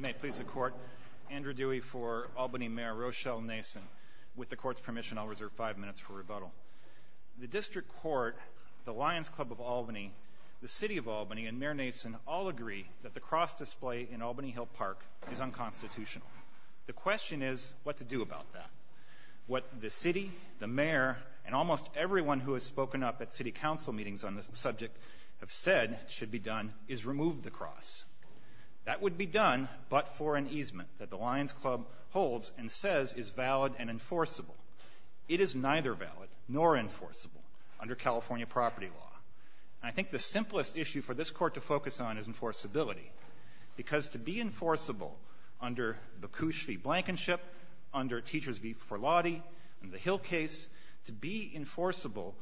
May it please the Court, Andrew Dewey for Albany Mayor Rochelle Nason. With the Court's permission, I'll reserve five minutes for rebuttal. The District Court, the Lions Club of Albany, the City of Albany, and Mayor Nason all agree that the cross display in Albany Hill Park is unconstitutional. The question is what to do about that. What the City, the Mayor, and almost everyone who has spoken up at City Council meetings on this subject have said should be done is remove the cross. That would be done but for an easement that the Lions Club holds and says is valid and enforceable. It is neither valid nor enforceable under California property law. I think the simplest issue for this Court to focus on is enforceability, because to be enforceable under Bakush v. Blankenship, under Teachers v. Forlotti, and the Hill case, to be enforceable,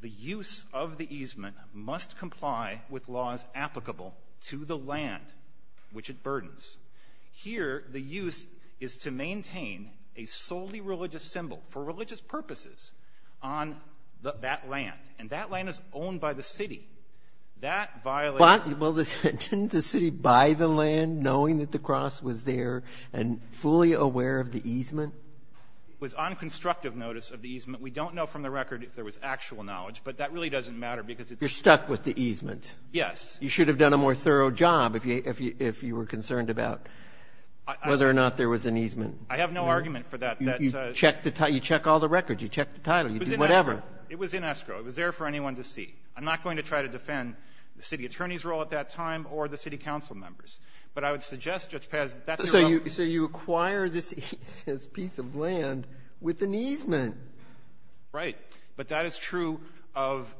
the use of the easement must comply with laws applicable to the land which it burdens. Here the use is to maintain a solely religious symbol for religious purposes on that land, and that land is owned by the City. That violates- Well, didn't the City buy the land knowing that the cross was there and fully aware of the easement? It was on constructive notice of the easement. We don't know from the record if there was actual knowledge, but that really doesn't matter because it's- You're stuck with the easement. Yes. You should have done a more thorough job if you were concerned about whether or not there was an easement. I have no argument for that. You check all the records. You check the title. You do whatever. It was in escrow. It was there for anyone to see. I'm not going to try to defend the City attorney's role at that time or the City council members. But I would suggest, Judge Paz, that that's your own- So you acquire this piece of land with an easement. Right. But that is true of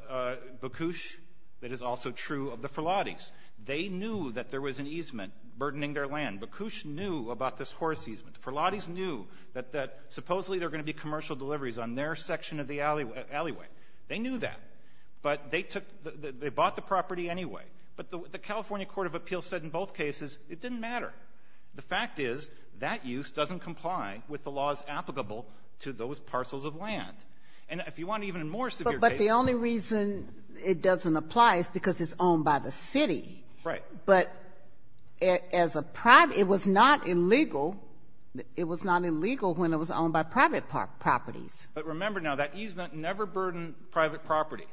Bacouche. That is also true of the Ferlattis. They knew that there was an easement burdening their land. Bacouche knew about this horse easement. The Ferlattis knew that supposedly there were going to be commercial deliveries on their section of the alleyway. They knew that, but they bought the property anyway. But the California Court of Appeals said in both cases it didn't matter. The fact is, that use doesn't comply with the laws applicable to those parcels of land. And if you want, even in more severe cases- But the only reason it doesn't apply is because it's owned by the City. Right. But as a private — it was not illegal — it was not illegal when it was owned by private properties. But remember now, that easement never burdened private property,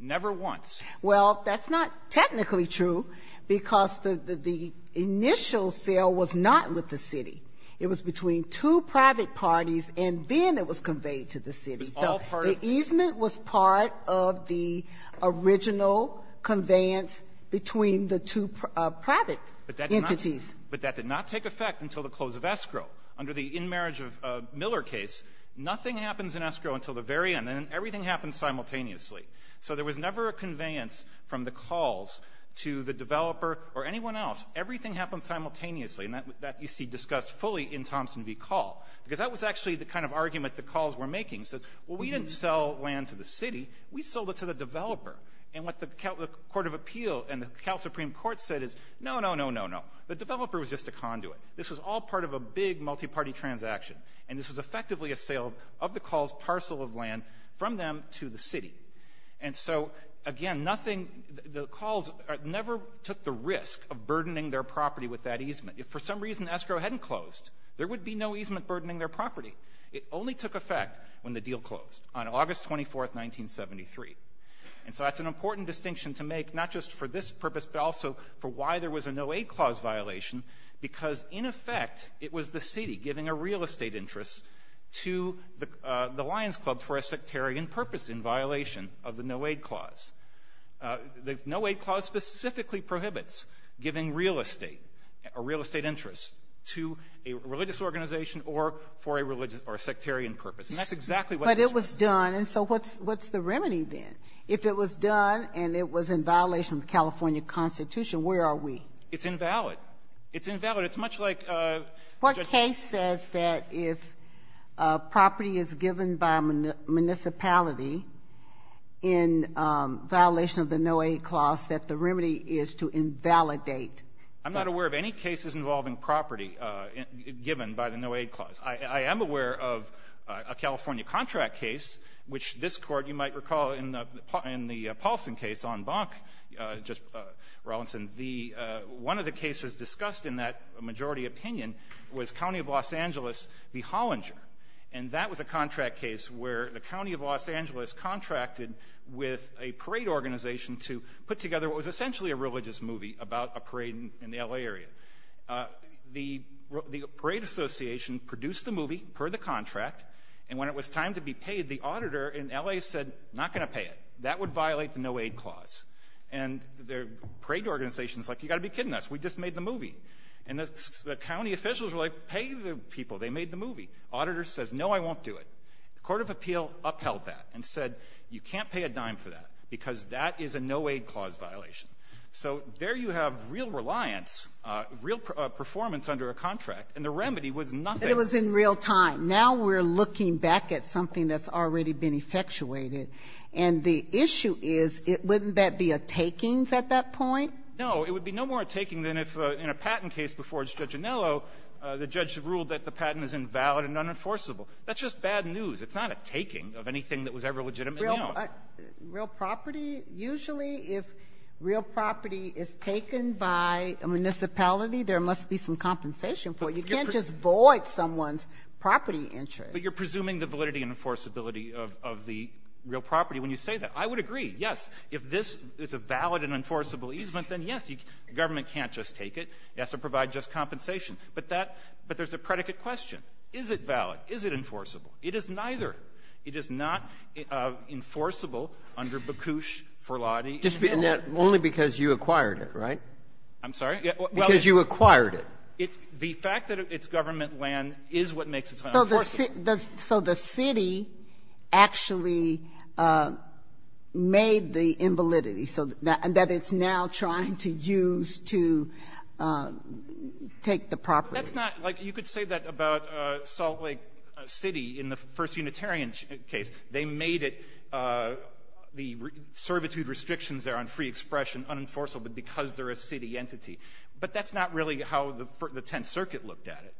never once. Well, that's not technically true, because the initial sale was not with the City. It was between two private parties, and then it was conveyed to the City. So the easement was part of the original conveyance between the two private entities. But that did not take effect until the close of escrow. Under the in-marriage of Miller case, nothing happens in escrow until the very end. And then everything happens simultaneously. So there was never a conveyance from the calls to the developer or anyone else. Everything happens simultaneously. And that you see discussed fully in Thompson v. Call, because that was actually the kind of argument the calls were making. It says, well, we didn't sell land to the City. We sold it to the developer. And what the Court of Appeal and the Cal Supreme Court said is, no, no, no, no, no. The developer was just a conduit. This was all part of a big multi-party transaction. And this was effectively a sale of the call's parcel of land from them to the City. And so, again, nothing, the calls never took the risk of burdening their property with that easement. If for some reason escrow hadn't closed, there would be no easement burdening their property. It only took effect when the deal closed, on August 24th, 1973. And so that's an important distinction to make, not just for this purpose, but also for why there was a no-aid clause violation. Because in effect, it was the City giving a real estate interest to the Lions Club for a sectarian purpose in violation of the no-aid clause. The no-aid clause specifically prohibits giving real estate, a real estate interest, to a religious organization or for a religious or a sectarian purpose. And that's exactly what this was. But it was done, and so what's the remedy then? If it was done and it was in violation of the California Constitution, where are we? It's invalid. It's invalid. But it's much like Justice Sotomayor. What case says that if property is given by a municipality in violation of the no-aid clause, that the remedy is to invalidate? I'm not aware of any cases involving property given by the no-aid clause. I am aware of a California contract case, which this Court, you might recall in the Paulson case on Bonk, just, Rawlinson, the one of the cases discussed in that majority opinion was County of Los Angeles v. Hollinger. And that was a contract case where the County of Los Angeles contracted with a parade organization to put together what was essentially a religious movie about a parade in the L.A. area. The parade association produced the movie per the contract, and when it was time to be paid, the auditor in L.A. said, not going to pay it. That would violate the no-aid clause. And the parade organization is like, you've got to be kidding us. We just made the movie. And the county officials were like, pay the people. They made the movie. Auditor says, no, I won't do it. The court of appeal upheld that and said, you can't pay a dime for that because that is a no-aid clause violation. So there you have real reliance, real performance under a contract, and the remedy was nothing. It was in real time. Now we're looking back at something that's already been effectuated. And the issue is, wouldn't that be a takings at that point? No, it would be no more a taking than if in a patent case before Judge Anello, the judge ruled that the patent is invalid and unenforceable. That's just bad news. It's not a taking of anything that was ever legitimately owned. Real property, usually if real property is taken by a municipality, there must be some compensation for it. You can't just void someone's property interest. But you're presuming the validity and enforceability of the real property when you say that. I would agree, yes. If this is a valid and enforceable easement, then, yes, the government can't just take it. It has to provide just compensation. But that — but there's a predicate question. Is it valid? Is it enforceable? It is neither. It is not enforceable under Bakush, Ferlati, and Hill. And that's only because you acquired it, right? I'm sorry? Because you acquired it. The fact that it's government land is what makes it unenforceable. So the city actually made the invalidity, so that it's now trying to use to take the property. That's not — like, you could say that about Salt Lake City in the first Unitarian case. They made it — the servitude restrictions there on free expression unenforceable because they're a city entity. But that's not really how the Tenth Circuit looked at it.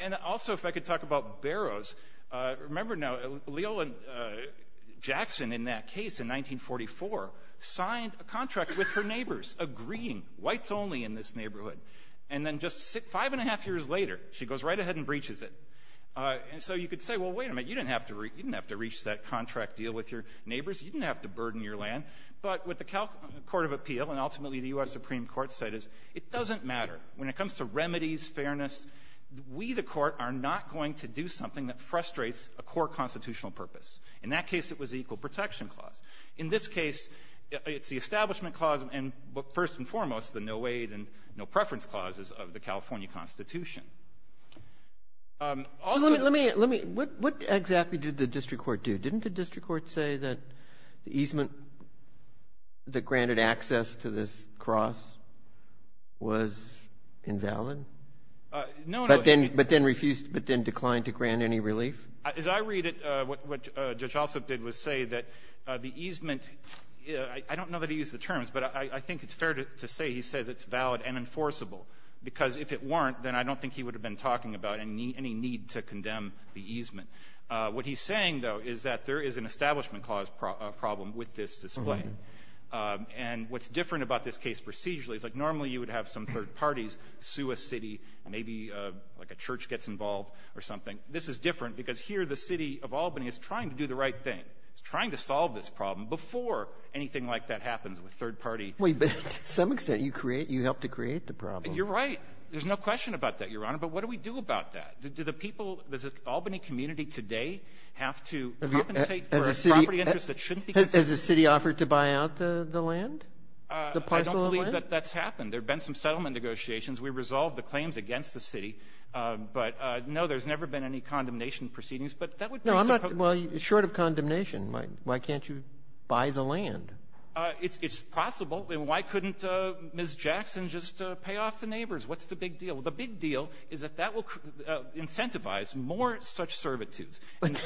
And also, if I could talk about Barrows, remember now, Leola Jackson in that case in 1944 signed a contract with her neighbors agreeing whites only in this neighborhood. And then just five and a half years later, she goes right ahead and breaches it. And so you could say, well, wait a minute, you didn't have to reach that contract deal with your neighbors. You didn't have to burden your land. But what the Court of Appeal and ultimately the U.S. Supreme Court said is it doesn't matter. When it comes to remedies, fairness, we, the court, are not going to do something that frustrates a core constitutional purpose. In that case, it was the Equal Protection Clause. In this case, it's the Establishment Clause and, first and foremost, the no-aid and no-preference clauses of the California Constitution. Also — So let me — let me — what exactly did the district court do? Didn't the district court say that the easement that granted access to this cross was invalid? No, no — But then — but then refused — but then declined to grant any relief? As I read it, what Judge Alsop did was say that the easement — I don't know that he used the terms, but I think it's fair to say he says it's valid and enforceable, because if it weren't, then I don't think he would have been talking about any need to condemn the easement. What he's saying, though, is that there is an Establishment Clause problem with this display. And what's different about this case procedurally is, like, normally you would have some third parties sue a city, maybe, like, a church gets involved or something. This is different, because here the city of Albany is trying to do the right thing. It's trying to solve this problem before anything like that happens with third-party — Wait, but to some extent, you create — you help to create the problem. You're right. There's no question about that, Your Honor. But what do we do about that? Do the people — does the Albany community today have to compensate for a property interest that shouldn't be — Has the city offered to buy out the land, the parcel of land? I don't believe that that's happened. There have been some settlement negotiations. We resolved the claims against the city. But no, there's never been any condemnation proceedings. But that would be — No, I'm not — well, short of condemnation, why can't you buy the land? It's possible. And why couldn't Ms. Jackson just pay off the neighbors? What's the big deal? The big deal is that that will incentivize more such servitudes. But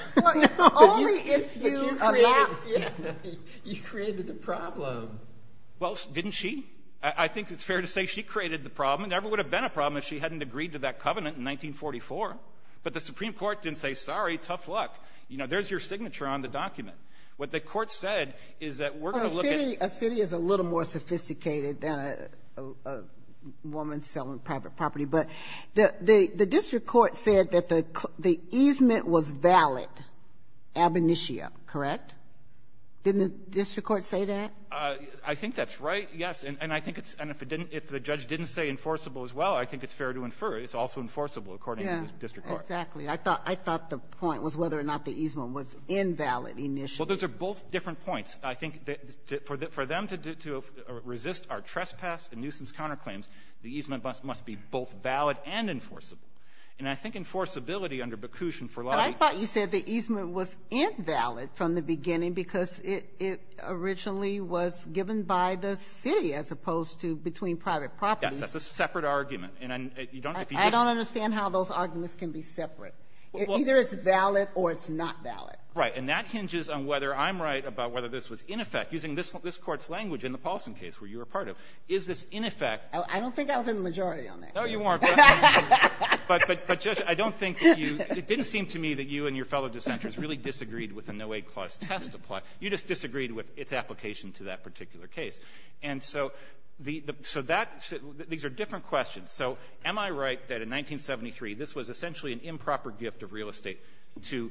only if you — But you created — A lot — Yeah. You created the problem. Well, didn't she? I think it's fair to say she created the problem. It never would have been a problem if she hadn't agreed to that covenant in 1944. But the Supreme Court didn't say, sorry, tough luck. You know, there's your signature on the document. What the court said is that we're going to look at — A city is a little more sophisticated than a woman selling private property. But the district court said that the easement was valid ab initio, correct? Didn't the district court say that? I think that's right, yes. And I think it's — and if it didn't — if the judge didn't say enforceable as well, I think it's fair to infer it's also enforceable, according to the district court. Yeah, exactly. I thought — I thought the point was whether or not the easement was invalid initially. Well, those are both different points. I think that for them to resist our trespass and nuisance counterclaims, the easement must be both valid and enforceable. And I think enforceability under Baccusian for lobbyists — But I thought you said the easement was invalid from the beginning because it originally was given by the city as opposed to between private properties. Yes, that's a separate argument. And you don't — I don't understand how those arguments can be separate. Either it's valid or it's not valid. Right. And that hinges on whether I'm right about whether this was in effect. Using this Court's language in the Paulson case, where you were a part of, is this in effect — I don't think I was in the majority on that. No, you weren't. But, Judge, I don't think that you — it didn't seem to me that you and your fellow dissenters really disagreed with the No-Aid Clause test. You just disagreed with its application to that particular case. And so the — so that — these are different questions. So am I right that in 1973 this was essentially an improper gift of real estate to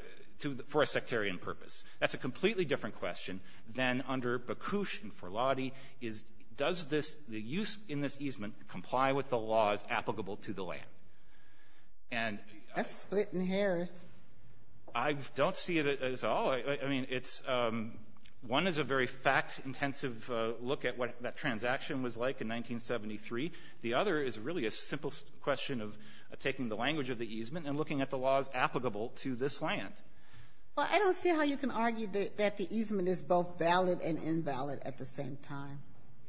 — for a sectarian purpose? That's a completely different question than under Bakush and Forlotti is, does this — the use in this easement comply with the laws applicable to the land? And — That's splitting hairs. I don't see it as all — I mean, it's — one is a very fact-intensive look at what that transaction was like in 1973. The other is really a simple question of taking the language of the easement and looking at the laws applicable to this land. Well, I don't see how you can argue that the easement is both valid and invalid at the same time.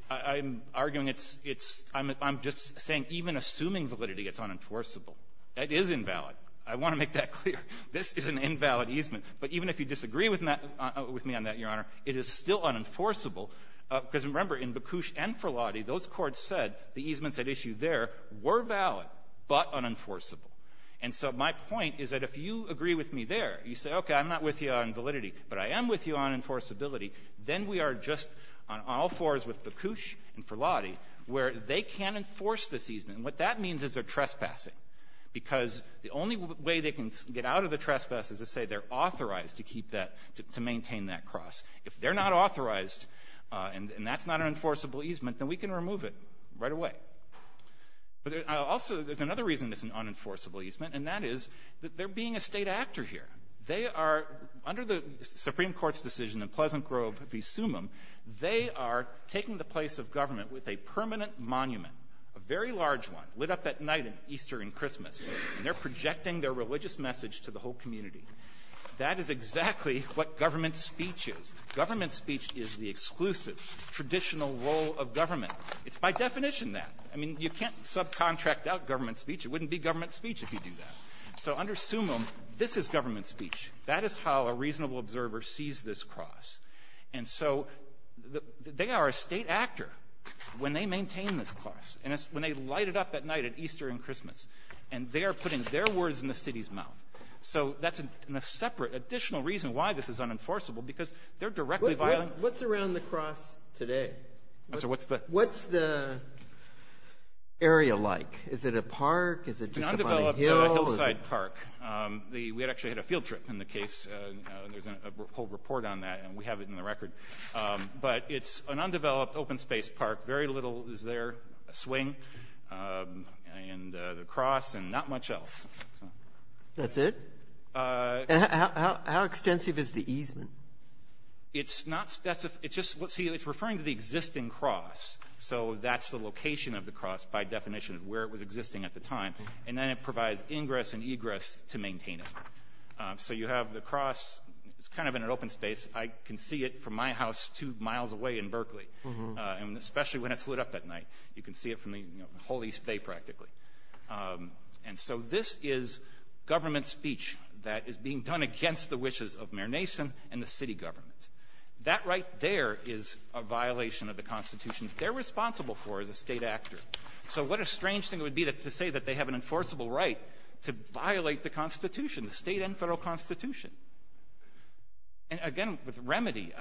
I'm arguing it's — it's — I'm just saying even assuming validity, it's unenforceable. That is invalid. I want to make that clear. This is an invalid easement. But even if you disagree with me on that, Your Honor, it is still unenforceable because, remember, in Bakush and Forlotti, those courts said the easements at issue there were valid but unenforceable. And so my point is that if you agree with me there, you say, okay, I'm not with you on validity, but I am with you on enforceability, then we are just on all fours with Bakush and Forlotti where they can't enforce this easement. And what that means is they're trespassing because the only way they can get out of the trespass is to say they're authorized to keep that — to maintain that cross. If they're not authorized and that's not an enforceable easement, then we can remove it right away. But also, there's another reason it's an unenforceable easement, and that is that they're being a State actor here. They are — under the Supreme Court's decision in Pleasant Grove v. Summum, they are taking the place of government with a permanent monument, a very large one, lit up at night at Easter and Christmas, and they're projecting their religious message to the whole community. That is exactly what government speech is. Government speech is the exclusive, traditional role of government. It's by definition that. I mean, you can't subcontract out government speech. It wouldn't be government speech if you do that. So under Summum, this is government speech. That is how a reasonable observer sees this cross. And so they are a State actor when they maintain this cross, and it's when they light it up at night at Easter and Christmas, and they are putting their words in the city's mouth. So that's a separate, additional reason why this is unenforceable, because they're directly violating — What's around the cross today? I'm sorry, what's the — What's the area like? Is it a park? Is it just a fine hill? It's an undeveloped hillside park. We actually had a field trip in the case, and there's a report on that, and we have it in the record. But it's an undeveloped, open-space park. Very little is there, a swing, and the cross, and not much else. That's it? And how extensive is the easement? It's not specified. It's just — see, it's referring to the existing cross, so that's the location of the cross by definition of where it was existing at the time. And then it provides ingress and egress to maintain it. So you have the cross — it's kind of in an open space. I can see it from my house two miles away in Berkeley, and especially when it's lit up at night. You can see it from the whole East Bay, practically. And so this is government speech that is being done against the wishes of Mayor Nason and the city government. That right there is a violation of the Constitution. They're responsible for it as a state actor. So what a strange thing it would be to say that they have an enforceable right to violate the Constitution, the state and federal Constitution. And again, with remedy,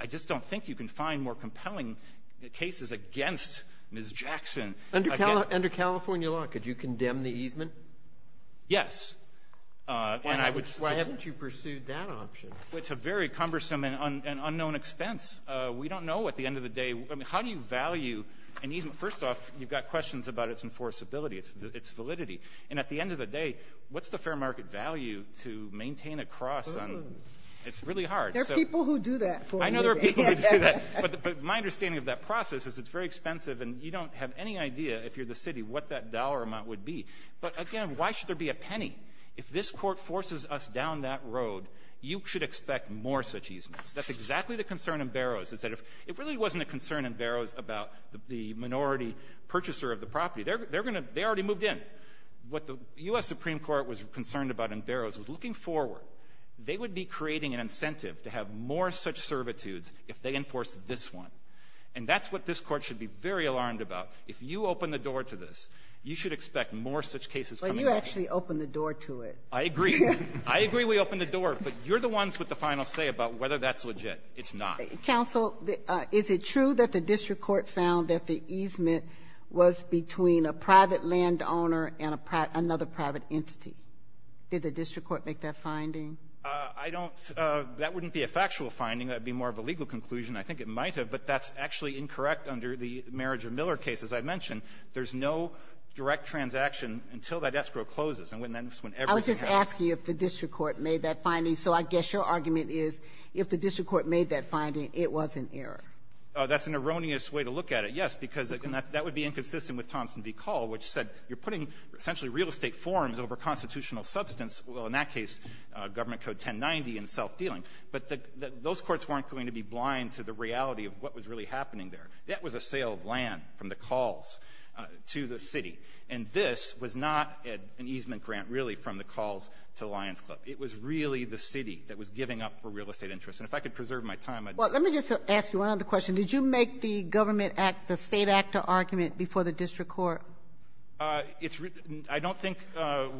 I just don't think you can find more compelling cases against Ms. Jackson — Well, under California law, could you condemn the easement? Yes. And I would — Why haven't you pursued that option? It's a very cumbersome and unknown expense. We don't know at the end of the day — I mean, how do you value an easement? First off, you've got questions about its enforceability, its validity. And at the end of the day, what's the fair market value to maintain a cross on — it's really hard. There are people who do that for you. I know there are people who do that. But my understanding of that process is it's very expensive, and you don't have any idea if you're the city what that dollar amount would be. But again, why should there be a penny? If this Court forces us down that road, you should expect more such easements. That's exactly the concern in Barrows, is that if — it really wasn't a concern in Barrows about the minority purchaser of the property. They're going to — they already moved in. What the U.S. Supreme Court was concerned about in Barrows was, looking forward, they would be creating an incentive to have more such servitudes if they enforce this one. And that's what this Court should be very alarmed about. If you open the door to this, you should expect more such cases coming up. But you actually opened the door to it. I agree. I agree we opened the door. But you're the ones with the final say about whether that's legit. It's not. Counsel, is it true that the district court found that the easement was between a private landowner and another private entity? Did the district court make that finding? I don't — that wouldn't be a factual finding. That would be more of a legal conclusion. I think it might have. But that's actually incorrect under the Marriage of Miller case. As I mentioned, there's no direct transaction until that escrow closes. And when that — I was just asking if the district court made that finding. So I guess your argument is, if the district court made that finding, it was an error. That's an erroneous way to look at it, yes, because that would be inconsistent with Thompson v. Call, which said you're putting essentially real estate forms over constitutional substance, well, in that case, Government Code 1090 and self-dealing. But those courts weren't going to be blind to the reality of what was really happening there. That was a sale of land from the Calls to the city. And this was not an easement grant, really, from the Calls to Lions Club. It was really the city that was giving up for real estate interest. And if I could preserve my time, I'd — Well, let me just ask you one other question. Did you make the Government Act, the State Act, an argument before the district court? It's — I don't think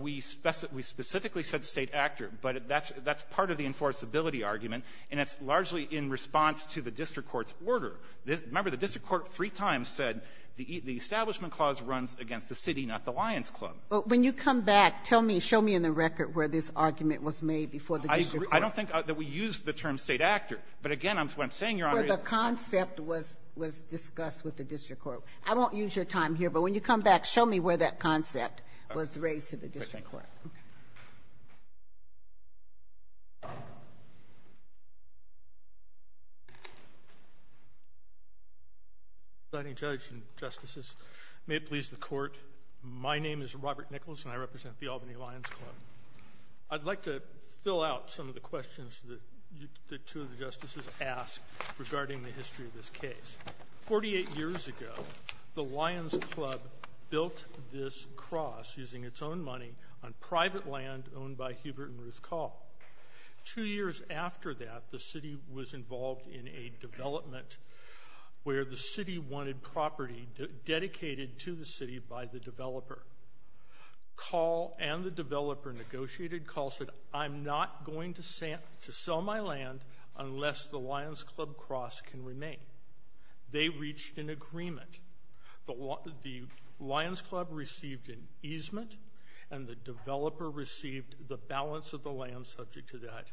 we specifically said State Act, but that's part of the enforceability argument, and it's largely in response to the district court's order. Remember, the district court three times said the Establishment Clause runs against the city, not the Lions Club. But when you come back, tell me, show me in the record where this argument was made before the district court. I don't think that we used the term State Act, but again, what I'm saying, Your Honor, is — Well, the concept was — was discussed with the district court. I won't use your time here, but when you come back, show me where that concept was raised to the district court. Okay. Signing judge and justices, may it please the court. My name is Robert Nichols, and I represent the Albany Lions Club. I'd like to fill out some of the questions that you — that two of the justices asked regarding the history of this case. Forty-eight years ago, the Lions Club built this cross using its own money on private land owned by Hubert and Ruth Call. Two years after that, the city was involved in a development where the city wanted property dedicated to the city by the developer. Call and the developer negotiated. Call said, I'm not going to sell my land unless the Lions Club cross can remain. They reached an agreement. The Lions Club received an easement, and the developer received the balance of the land subject to that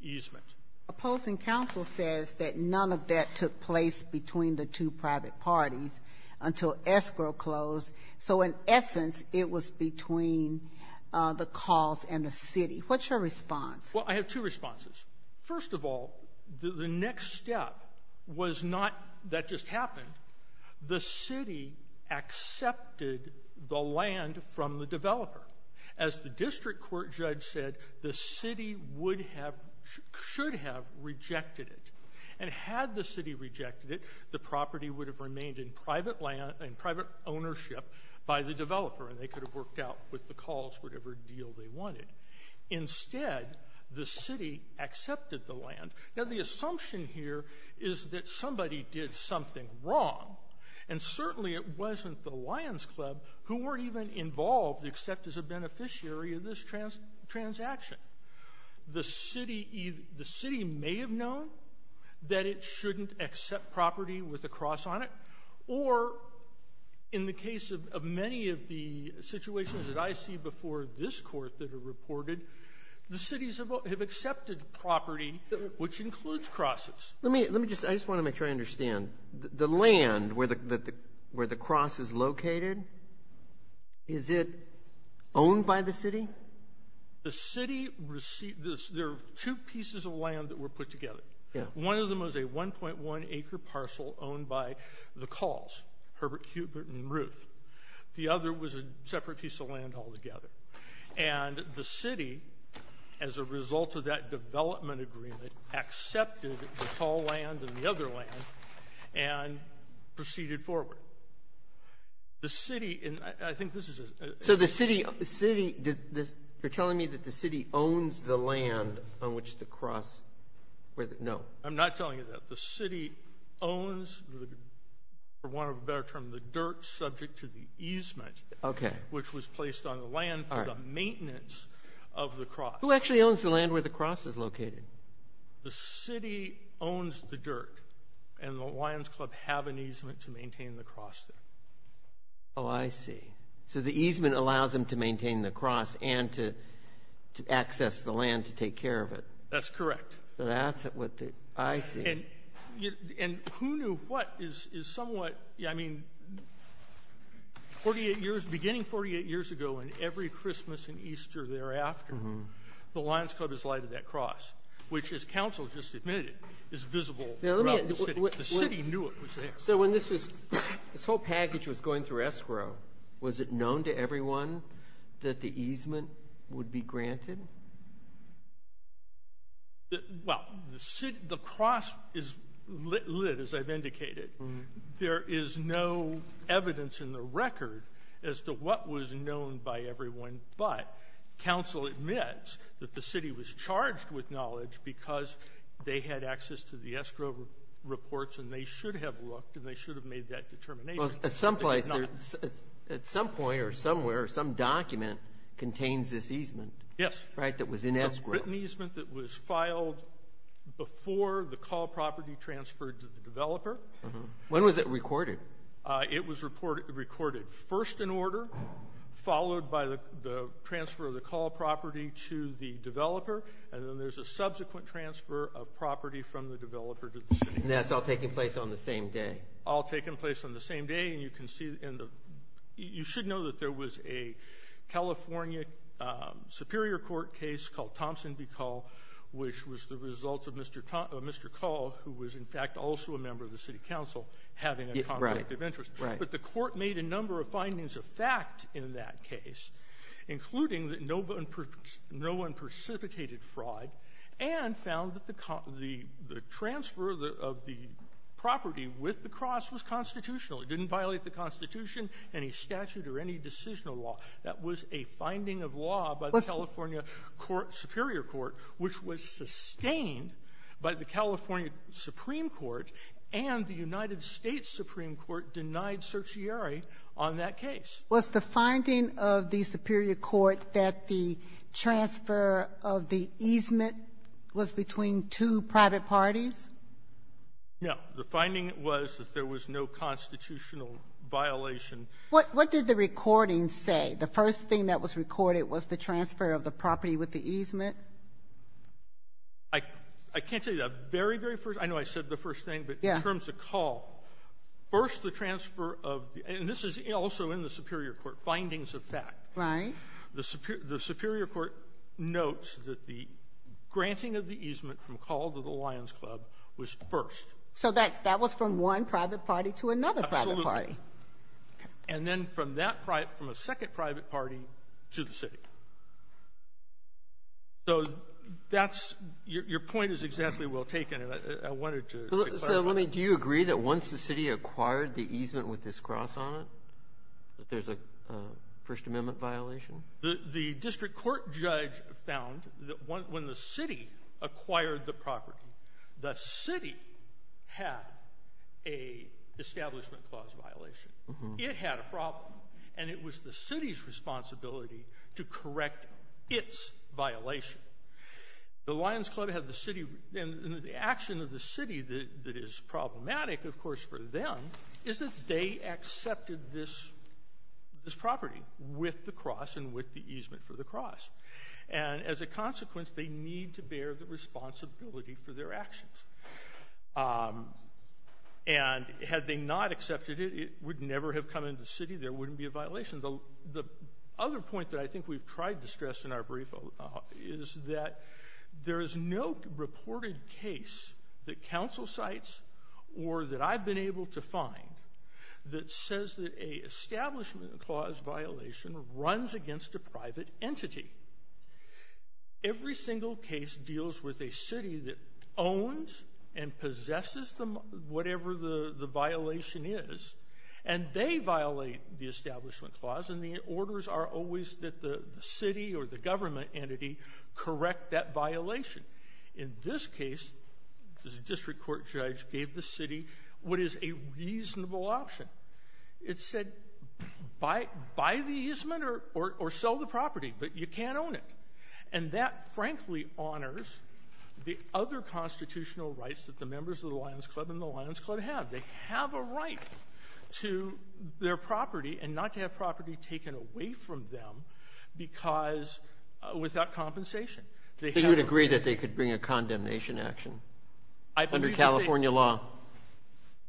easement. Opposing counsel says that none of that took place between the two private parties until escrow closed. So in essence, it was between the calls and the city. What's your response? Well, I have two responses. First of all, the next step was not that just happened. The city accepted the land from the developer. As the district court judge said, the city would have — should have rejected it. And had the city rejected it, the property would have remained in private land — in private land by the developer. And they could have worked out with the calls whatever deal they wanted. Instead, the city accepted the land. Now, the assumption here is that somebody did something wrong. And certainly it wasn't the Lions Club who weren't even involved except as a beneficiary of this transaction. The city may have known that it shouldn't accept property with a cross on it, or in the case of many of the situations that I see before this Court that are reported, the cities have accepted property which includes crosses. Let me — let me just — I just want to make sure I understand. The land where the cross is located, is it owned by the city? The city — there are two pieces of land that were put together. One of them was a 1.1-acre parcel owned by the calls, Herbert, Hubert, and Ruth. The other was a separate piece of land altogether. And the city, as a result of that development agreement, accepted the tall land and the other land and proceeded forward. The city — and I think this is — So the city — the city — you're telling me that the city owns the land on which the No. I'm not telling you that. The city owns, for want of a better term, the dirt subject to the easement — Okay. — which was placed on the land for the maintenance of the cross. Who actually owns the land where the cross is located? The city owns the dirt, and the Lions Club have an easement to maintain the cross there. Oh, I see. So the easement allows them to maintain the cross and to access the land to take care of it. That's correct. So that's what I see. And who knew what is somewhat — I mean, 48 years — beginning 48 years ago, and every Christmas and Easter thereafter, the Lions Club has lighted that cross, which, as counsel just admitted, is visible throughout the city. The city knew it was there. So when this was — this whole package was going through escrow, was it known to everyone that the easement would be granted? Well, the city — the cross is lit, as I've indicated. There is no evidence in the record as to what was known by everyone, but counsel admits that the city was charged with knowledge because they had access to the escrow reports, and they should have looked, and they should have made that determination. But they did not. Well, at some place, at some point or somewhere, some document contains this easement. Yes. Right? That was in escrow. It's an easement that was filed before the call property transferred to the developer. When was it recorded? It was recorded first in order, followed by the transfer of the call property to the developer, and then there's a subsequent transfer of property from the developer to the city. And that's all taking place on the same day? All taking place on the same day, and you can see — you should know that there was a California superior court case called Thompson v. Call, which was the result of Mr. Call, who was, in fact, also a member of the city council, having a conflict of interest. Right. Right. But the court made a number of findings of fact in that case, including that no one precipitated fraud and found that the transfer of the property with the cross was constitutional. It didn't violate the Constitution, any statute, or any decisional law. That was a finding of law by the California court — superior court, which was sustained by the California Supreme Court, and the United States Supreme Court denied certiorari on that case. Was the finding of the superior court that the transfer of the easement was between two private parties? No. The finding was that there was no constitutional violation. What did the recording say? The first thing that was recorded was the transfer of the property with the easement? I can't tell you that. Very, very first — I know I said the first thing, but in terms of Call, first the transfer of — and this is also in the superior court, findings of fact. Right. The superior court notes that the granting of the easement from Call to the Lion's Club was first. So that was from one private party to another private party? Absolutely. Okay. And then from that private — from a second private party to the city. So that's — your point is exactly well taken, and I wanted to clarify. So, I mean, do you agree that once the city acquired the easement with this cross on it, that there's a First Amendment violation? The district court judge found that when the city acquired the property, the city had a Establishment Clause violation. It had a problem, and it was the city's responsibility to correct its violation. The Lion's Club had the city — and the action of the city that is problematic, of they accepted this property with the cross and with the easement for the cross. And as a consequence, they need to bear the responsibility for their actions. And had they not accepted it, it would never have come into the city. There wouldn't be a violation. The other point that I think we've tried to stress in our brief is that there is no reported case that council cites or that I've been able to find that says that a Establishment Clause violation runs against a private entity. Every single case deals with a city that owns and possesses whatever the violation is, and they violate the Establishment Clause, and the orders are always that the city or the government entity correct that violation. In this case, the district court judge gave the city what is a reasonable option. It said, buy the easement or sell the property, but you can't own it. And that, frankly, honors the other constitutional rights that the members of the Lion's Club and the Lion's Club have. They have a right to their property and not to have property taken away from them because — without compensation. So you would agree that they could bring a condemnation action under California law?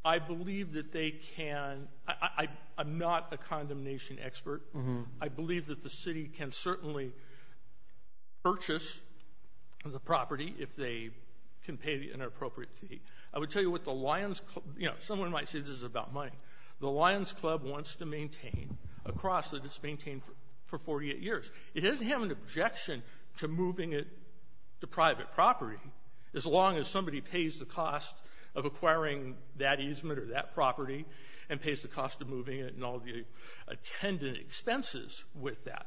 I believe that they can. I'm not a condemnation expert. I believe that the city can certainly purchase the property if they can pay the inappropriate fee. I would tell you what the Lion's Club — you know, someone might say this is about money. The Lion's Club wants to maintain a cross that it's maintained for 48 years. It doesn't have an objection to moving it to private property, as long as somebody pays the cost of acquiring that easement or that property and pays the cost of moving it and all the attendant expenses with that.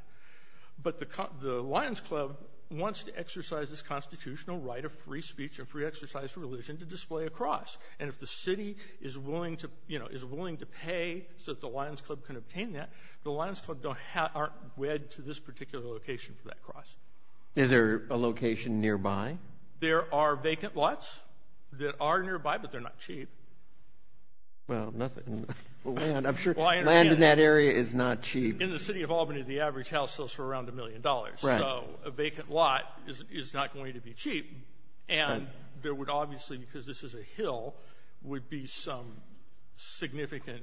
But the Lion's Club wants to exercise this constitutional right of free speech and free exercise of religion to display a cross. And if the city is willing to — you know, is willing to pay so that the Lion's Club can obtain that, the Lion's Club aren't wed to this particular location for that cross. Is there a location nearby? There are vacant lots that are nearby, but they're not cheap. Well, nothing — land, I'm sure — land in that area is not cheap. In the city of Albany, the average house sells for around a million dollars, so a vacant lot is not going to be cheap. And there would obviously, because this is a hill, would be some significant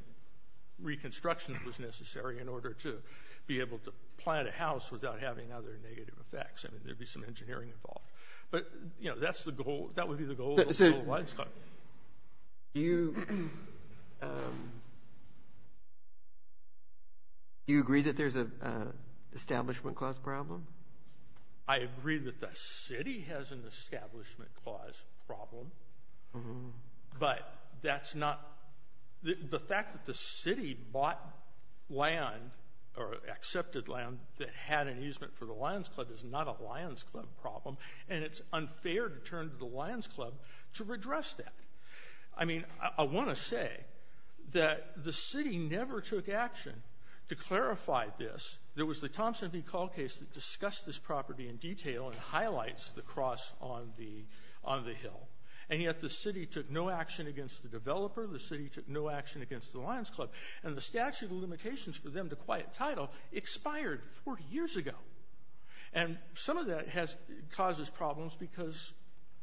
reconstruction that was necessary in order to be able to plant a house without having other negative effects. I mean, there'd be some engineering involved. But, you know, that's the goal — that would be the goal of the Lion's Club. Do you agree that there's an establishment cost problem? I agree that the city has an establishment cost problem, but that's not — the fact that the city bought land or accepted land that had an easement for the Lion's Club is not a Lion's Club problem, and it's unfair to turn to the Lion's Club to redress that. I mean, I want to say that the city never took action to clarify this. There was the Thompson v. Call case that discussed this property in detail and highlights the cross on the hill, and yet the city took no action against the developer, the city took no action against the Lion's Club, and the statute of limitations for them to quiet title expired 40 years ago. And some of that causes problems because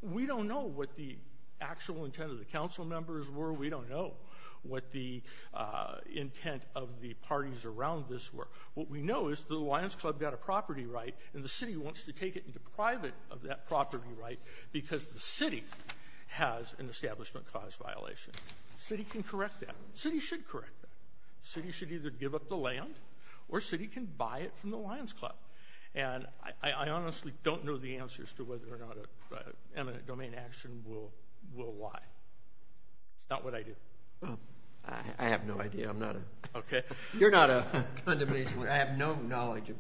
we don't know what the actual intent of the council members were. We don't know what the intent of the parties around this were. What we know is the Lion's Club got a property right, and the city wants to take it and deprive it of that property right because the city has an establishment cost violation. City can correct that. City should correct that. City should either give up the land, or city can buy it from the Lion's Club. And I honestly don't know the answers to whether or not an eminent domain action will lie. It's not what I do. I have no idea. I'm not a — Okay. I have no knowledge of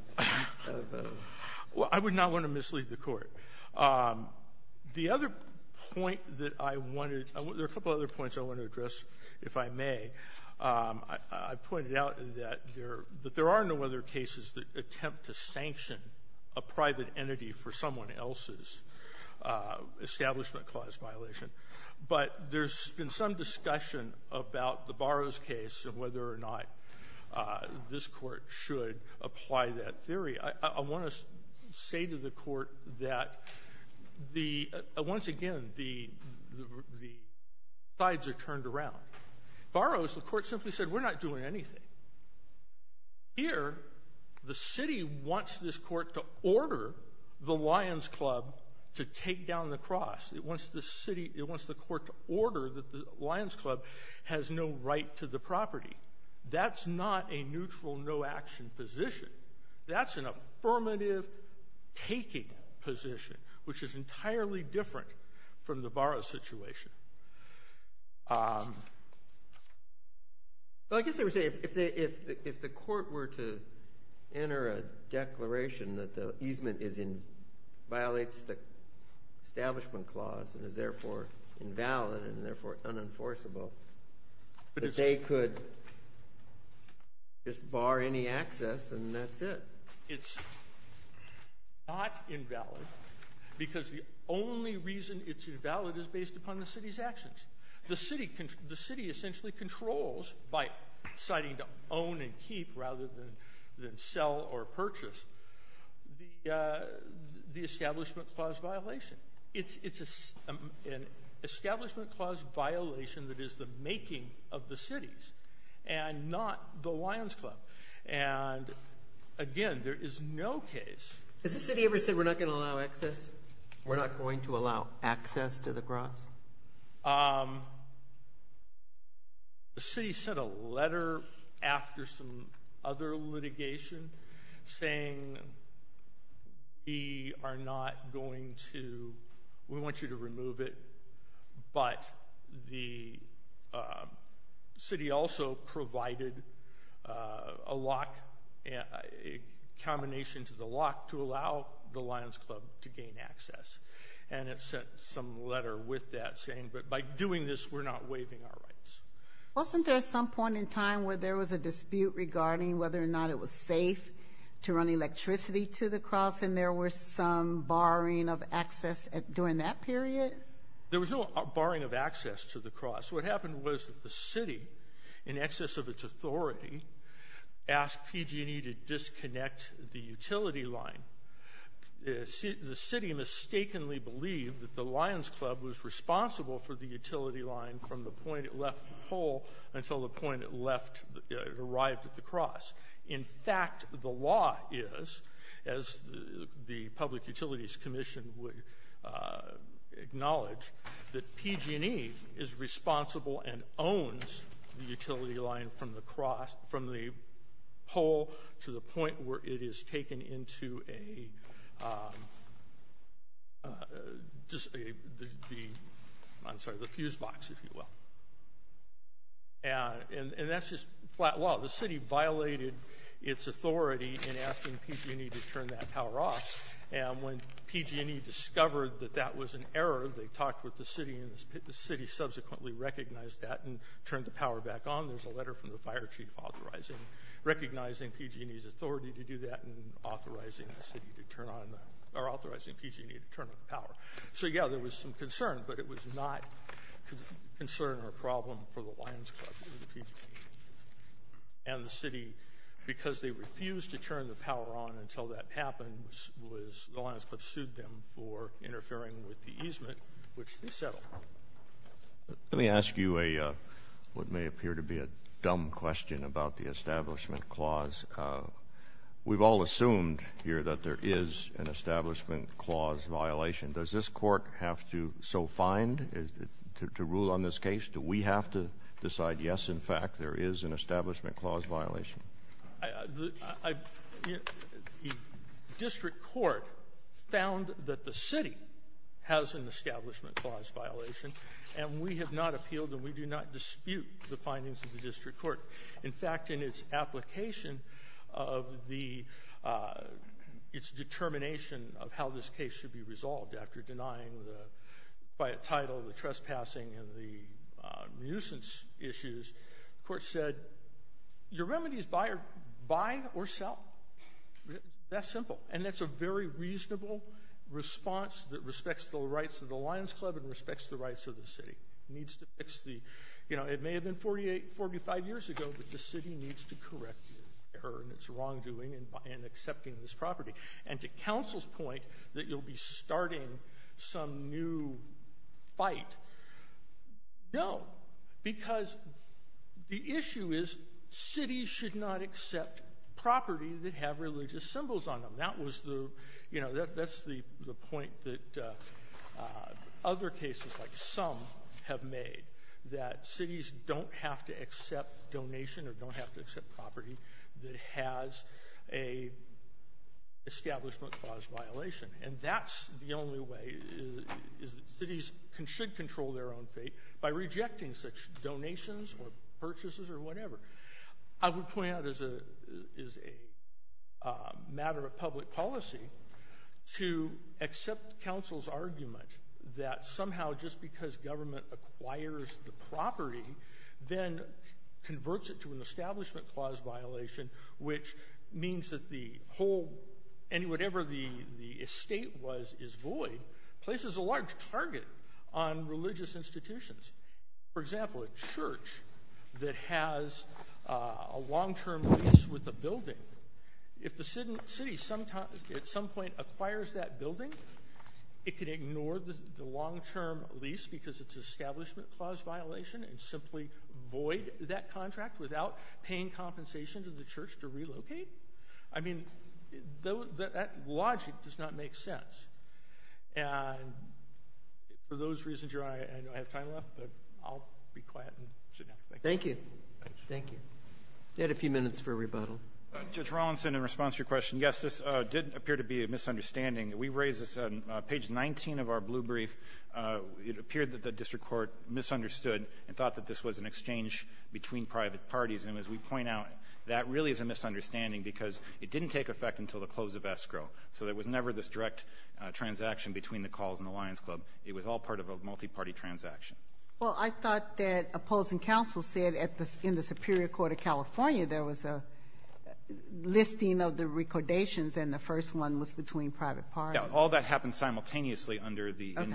— Well, I would not want to mislead the Court. The other point that I wanted — there are a couple of other points I want to address, if I may. I pointed out that there are no other cases that attempt to sanction a private entity for someone else's establishment clause violation. But there's been some discussion about the Burroughs case and whether or not this Court should apply that theory. I want to say to the Court that the — once again, the sides are turned around. Burroughs, the Court simply said, we're not doing anything. Here, the city wants this Court to order the Lion's Club to take down the cross. It wants the city — it wants the Court to order that the Lion's Club has no right to the property. That's not a neutral, no-action position. That's an affirmative-taking position, which is entirely different from the Burroughs situation. Well, I guess I would say, if the Court were to enter a declaration that the easement violates the establishment clause and is therefore invalid and therefore unenforceable, that they could just bar any access and that's it. It's not invalid because the only reason it's invalid is based upon the city's actions. The city essentially controls, by deciding to own and keep rather than sell or purchase, the establishment clause violation. It's an establishment clause violation that is the making of the cities and not the Lion's Club. And again, there is no case — Has the city ever said, we're not going to allow access? We're not going to allow access to the cross? The city sent a letter after some other litigation saying, we are not going to — we want you to remove it, but the city also provided a lock, a combination to the lock, to allow the Lion's Club to gain access. And it sent some letter with that saying, but by doing this, we're not waiving our rights. Wasn't there some point in time where there was a dispute regarding whether or not it was safe to run electricity to the cross and there was some barring of access during that period? There was no barring of access to the cross. What happened was that the city, in excess of its authority, asked PG&E to disconnect the utility line. The city mistakenly believed that the Lion's Club was responsible for the utility line from the point it left the pole until the point it left — it arrived at the cross. In fact, the law is, as the Public Utilities Commission would acknowledge, that PG&E is responsible and owns the utility line from the cross — from the pole to the point where it is taken into a — I'm sorry, the fuse box, if you will. And that's just flat law. The city violated its authority in asking PG&E to turn that power off, and when PG&E discovered that that was an error, they talked with the city, and the city subsequently recognized that and turned the power back on. There's a letter from the fire chief authorizing — recognizing PG&E's authority to do that and authorizing the city to turn on — or authorizing PG&E to turn on the power. So, yeah, there was some concern, but it was not a concern or problem for the Lion's Club or the PG&E, and the city, because they refused to turn the power on until that happened, was — the Lion's Club sued them for interfering with the easement, which they settled. Let me ask you a — what may appear to be a dumb question about the establishment clause. We've all assumed here that there is an establishment clause violation. Does this court have to so find to rule on this case? Do we have to decide, yes, in fact, there is an establishment clause violation? I — the district court found that the city has an establishment clause violation, and we have not appealed and we do not dispute the findings of the district court. In fact, in its application of the — its determination of how this case should be resolved after denying the — by a title, the trespassing, and the nuisance issues, the court said, your remedy is buy or sell. That simple. And that's a very reasonable response that respects the rights of the Lion's Club and respects the rights of the city. Needs to fix the — you know, it may have been 48, 45 years ago, but the city needs to correct its error and its wrongdoing in accepting this property. And to counsel's point that you'll be starting some new fight, no. Because the issue is cities should not accept property that have religious symbols on them. That was the — you know, that's the point that other cases like some have made, that cities don't have to accept donation or don't have to accept property that has a establishment clause violation. And that's the only way is that cities should control their own fate by rejecting such donations or purchases or whatever. I would point out as a matter of public policy to accept counsel's argument that somehow just because government acquires the property, then converts it to an establishment clause violation, which means that the whole — whatever the estate was is void, places a large target on religious institutions. For example, a church that has a long-term lease with a building, if the city at some point acquires that building, it could ignore the long-term lease because it's an establishment clause violation and simply void that contract without paying compensation to the church to relocate. I mean, that logic does not make sense. And for those reasons, I know I have time left, but I'll be quiet and sit down. Thank you. Thank you. We had a few minutes for a rebuttal. Judge Rawlinson, in response to your question, yes, this did appear to be a misunderstanding. We raised this on page 19 of our blue brief. It appeared that the district court misunderstood and thought that this was an exchange between private parties. And as we point out, that really is a misunderstanding because it didn't take effect until the close of escrow. So there was never this direct transaction between the calls and the Lions Club. It was all part of a multiparty transaction. Well, I thought that opposing counsel said in the Superior Court of California there was a listing of the recordations, and the first one was between private parties. Yeah, all that happened simultaneously under the... Okay.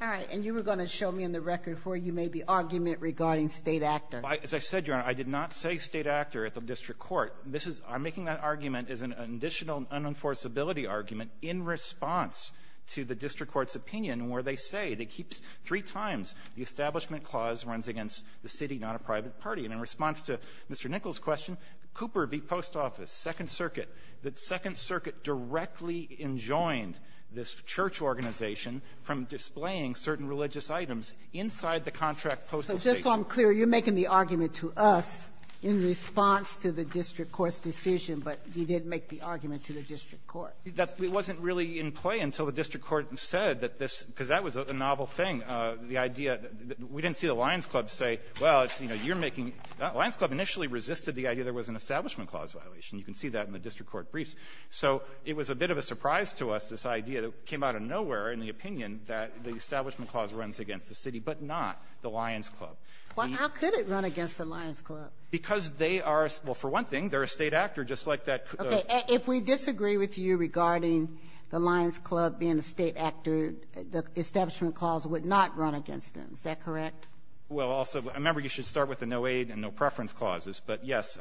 All right, and you were going to show me in the record where you made the argument regarding state actor. As I said, Your Honor, I did not say state actor at the district court. This is – I'm making that argument as an additional unforceability argument in response to the district court's opinion where they say that it keeps three times the establishment clause runs against the city, not a private party. And in response to Mr. Nichols' question, Cooper v. Post Office, Second Circuit, that Second Circuit directly enjoined this church organization from displaying certain religious items inside the contract postal statement. So just so I'm clear, you're making the argument to us in response to the district court's decision, but you didn't make the argument to the district court. That's – it wasn't really in play until the district court said that this – because that was a novel thing, the idea that we didn't see the Lions Club say, well, it's a state actor. So you're making – Lions Club initially resisted the idea there was an establishment clause violation. You can see that in the district court briefs. So it was a bit of a surprise to us, this idea that came out of nowhere in the opinion that the establishment clause runs against the city, but not the Lions Club. The – Ginsburg-Coper, how could it run against the Lions Club? Because they are – well, for one thing, they're a state actor, just like that – Okay. If we disagree with you regarding the Lions Club being a state actor, the establishment clause would not run against them. Is that correct? Well, also, remember, you should start with the no-aid and no-preference clauses. But, yes,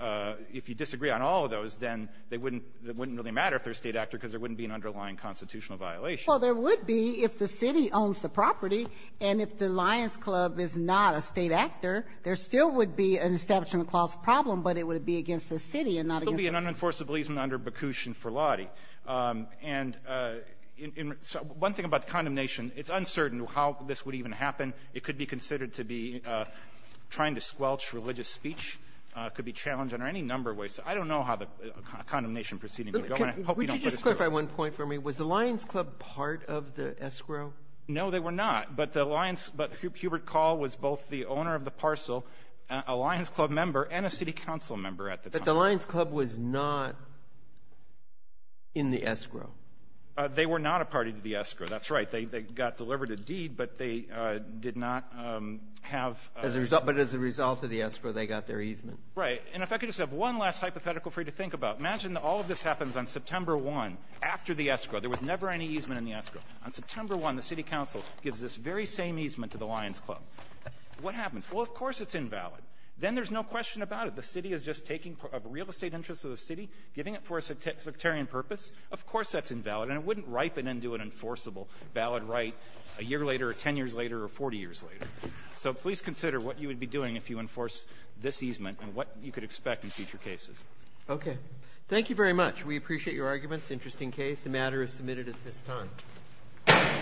if you disagree on all of those, then they wouldn't – it wouldn't really matter if they're a state actor, because there wouldn't be an underlying constitutional violation. Well, there would be if the city owns the property, and if the Lions Club is not a state actor, there still would be an establishment clause problem, but it would be against the city and not against the Lions Club. There would be an unenforced obligement under Baccus and Ferlati. And in – one thing about condemnation, it's uncertain how this would even happen. It could be considered to be trying to squelch religious speech. It could be challenged under any number of ways. I don't know how the condemnation proceeding would go, and I hope you don't put us through it. Would you just clarify one point for me? Was the Lions Club part of the escrow? No, they were not. But the Lions – but Hubert Call was both the owner of the parcel, a Lions Club member, and a city council member at the time. But the Lions Club was not in the escrow. They were not a party to the escrow. That's right. They got delivered a deed, but they did not have a – As a result – but as a result of the escrow, they got their easement. Right. And if I could just have one last hypothetical for you to think about. Imagine that all of this happens on September 1 after the escrow. There was never any easement in the escrow. On September 1, the city council gives this very same easement to the Lions Club. What happens? Well, of course it's invalid. Then there's no question about it. The city is just taking – of real estate interests of the city, giving it for a sectarian purpose. Of course that's invalid. And it wouldn't ripen into an enforceable valid right a year later or 10 years later or 40 years later. So please consider what you would be doing if you enforce this easement and what you could expect in future cases. Okay. Thank you very much. We appreciate your arguments. Interesting case. The matter is submitted at this time.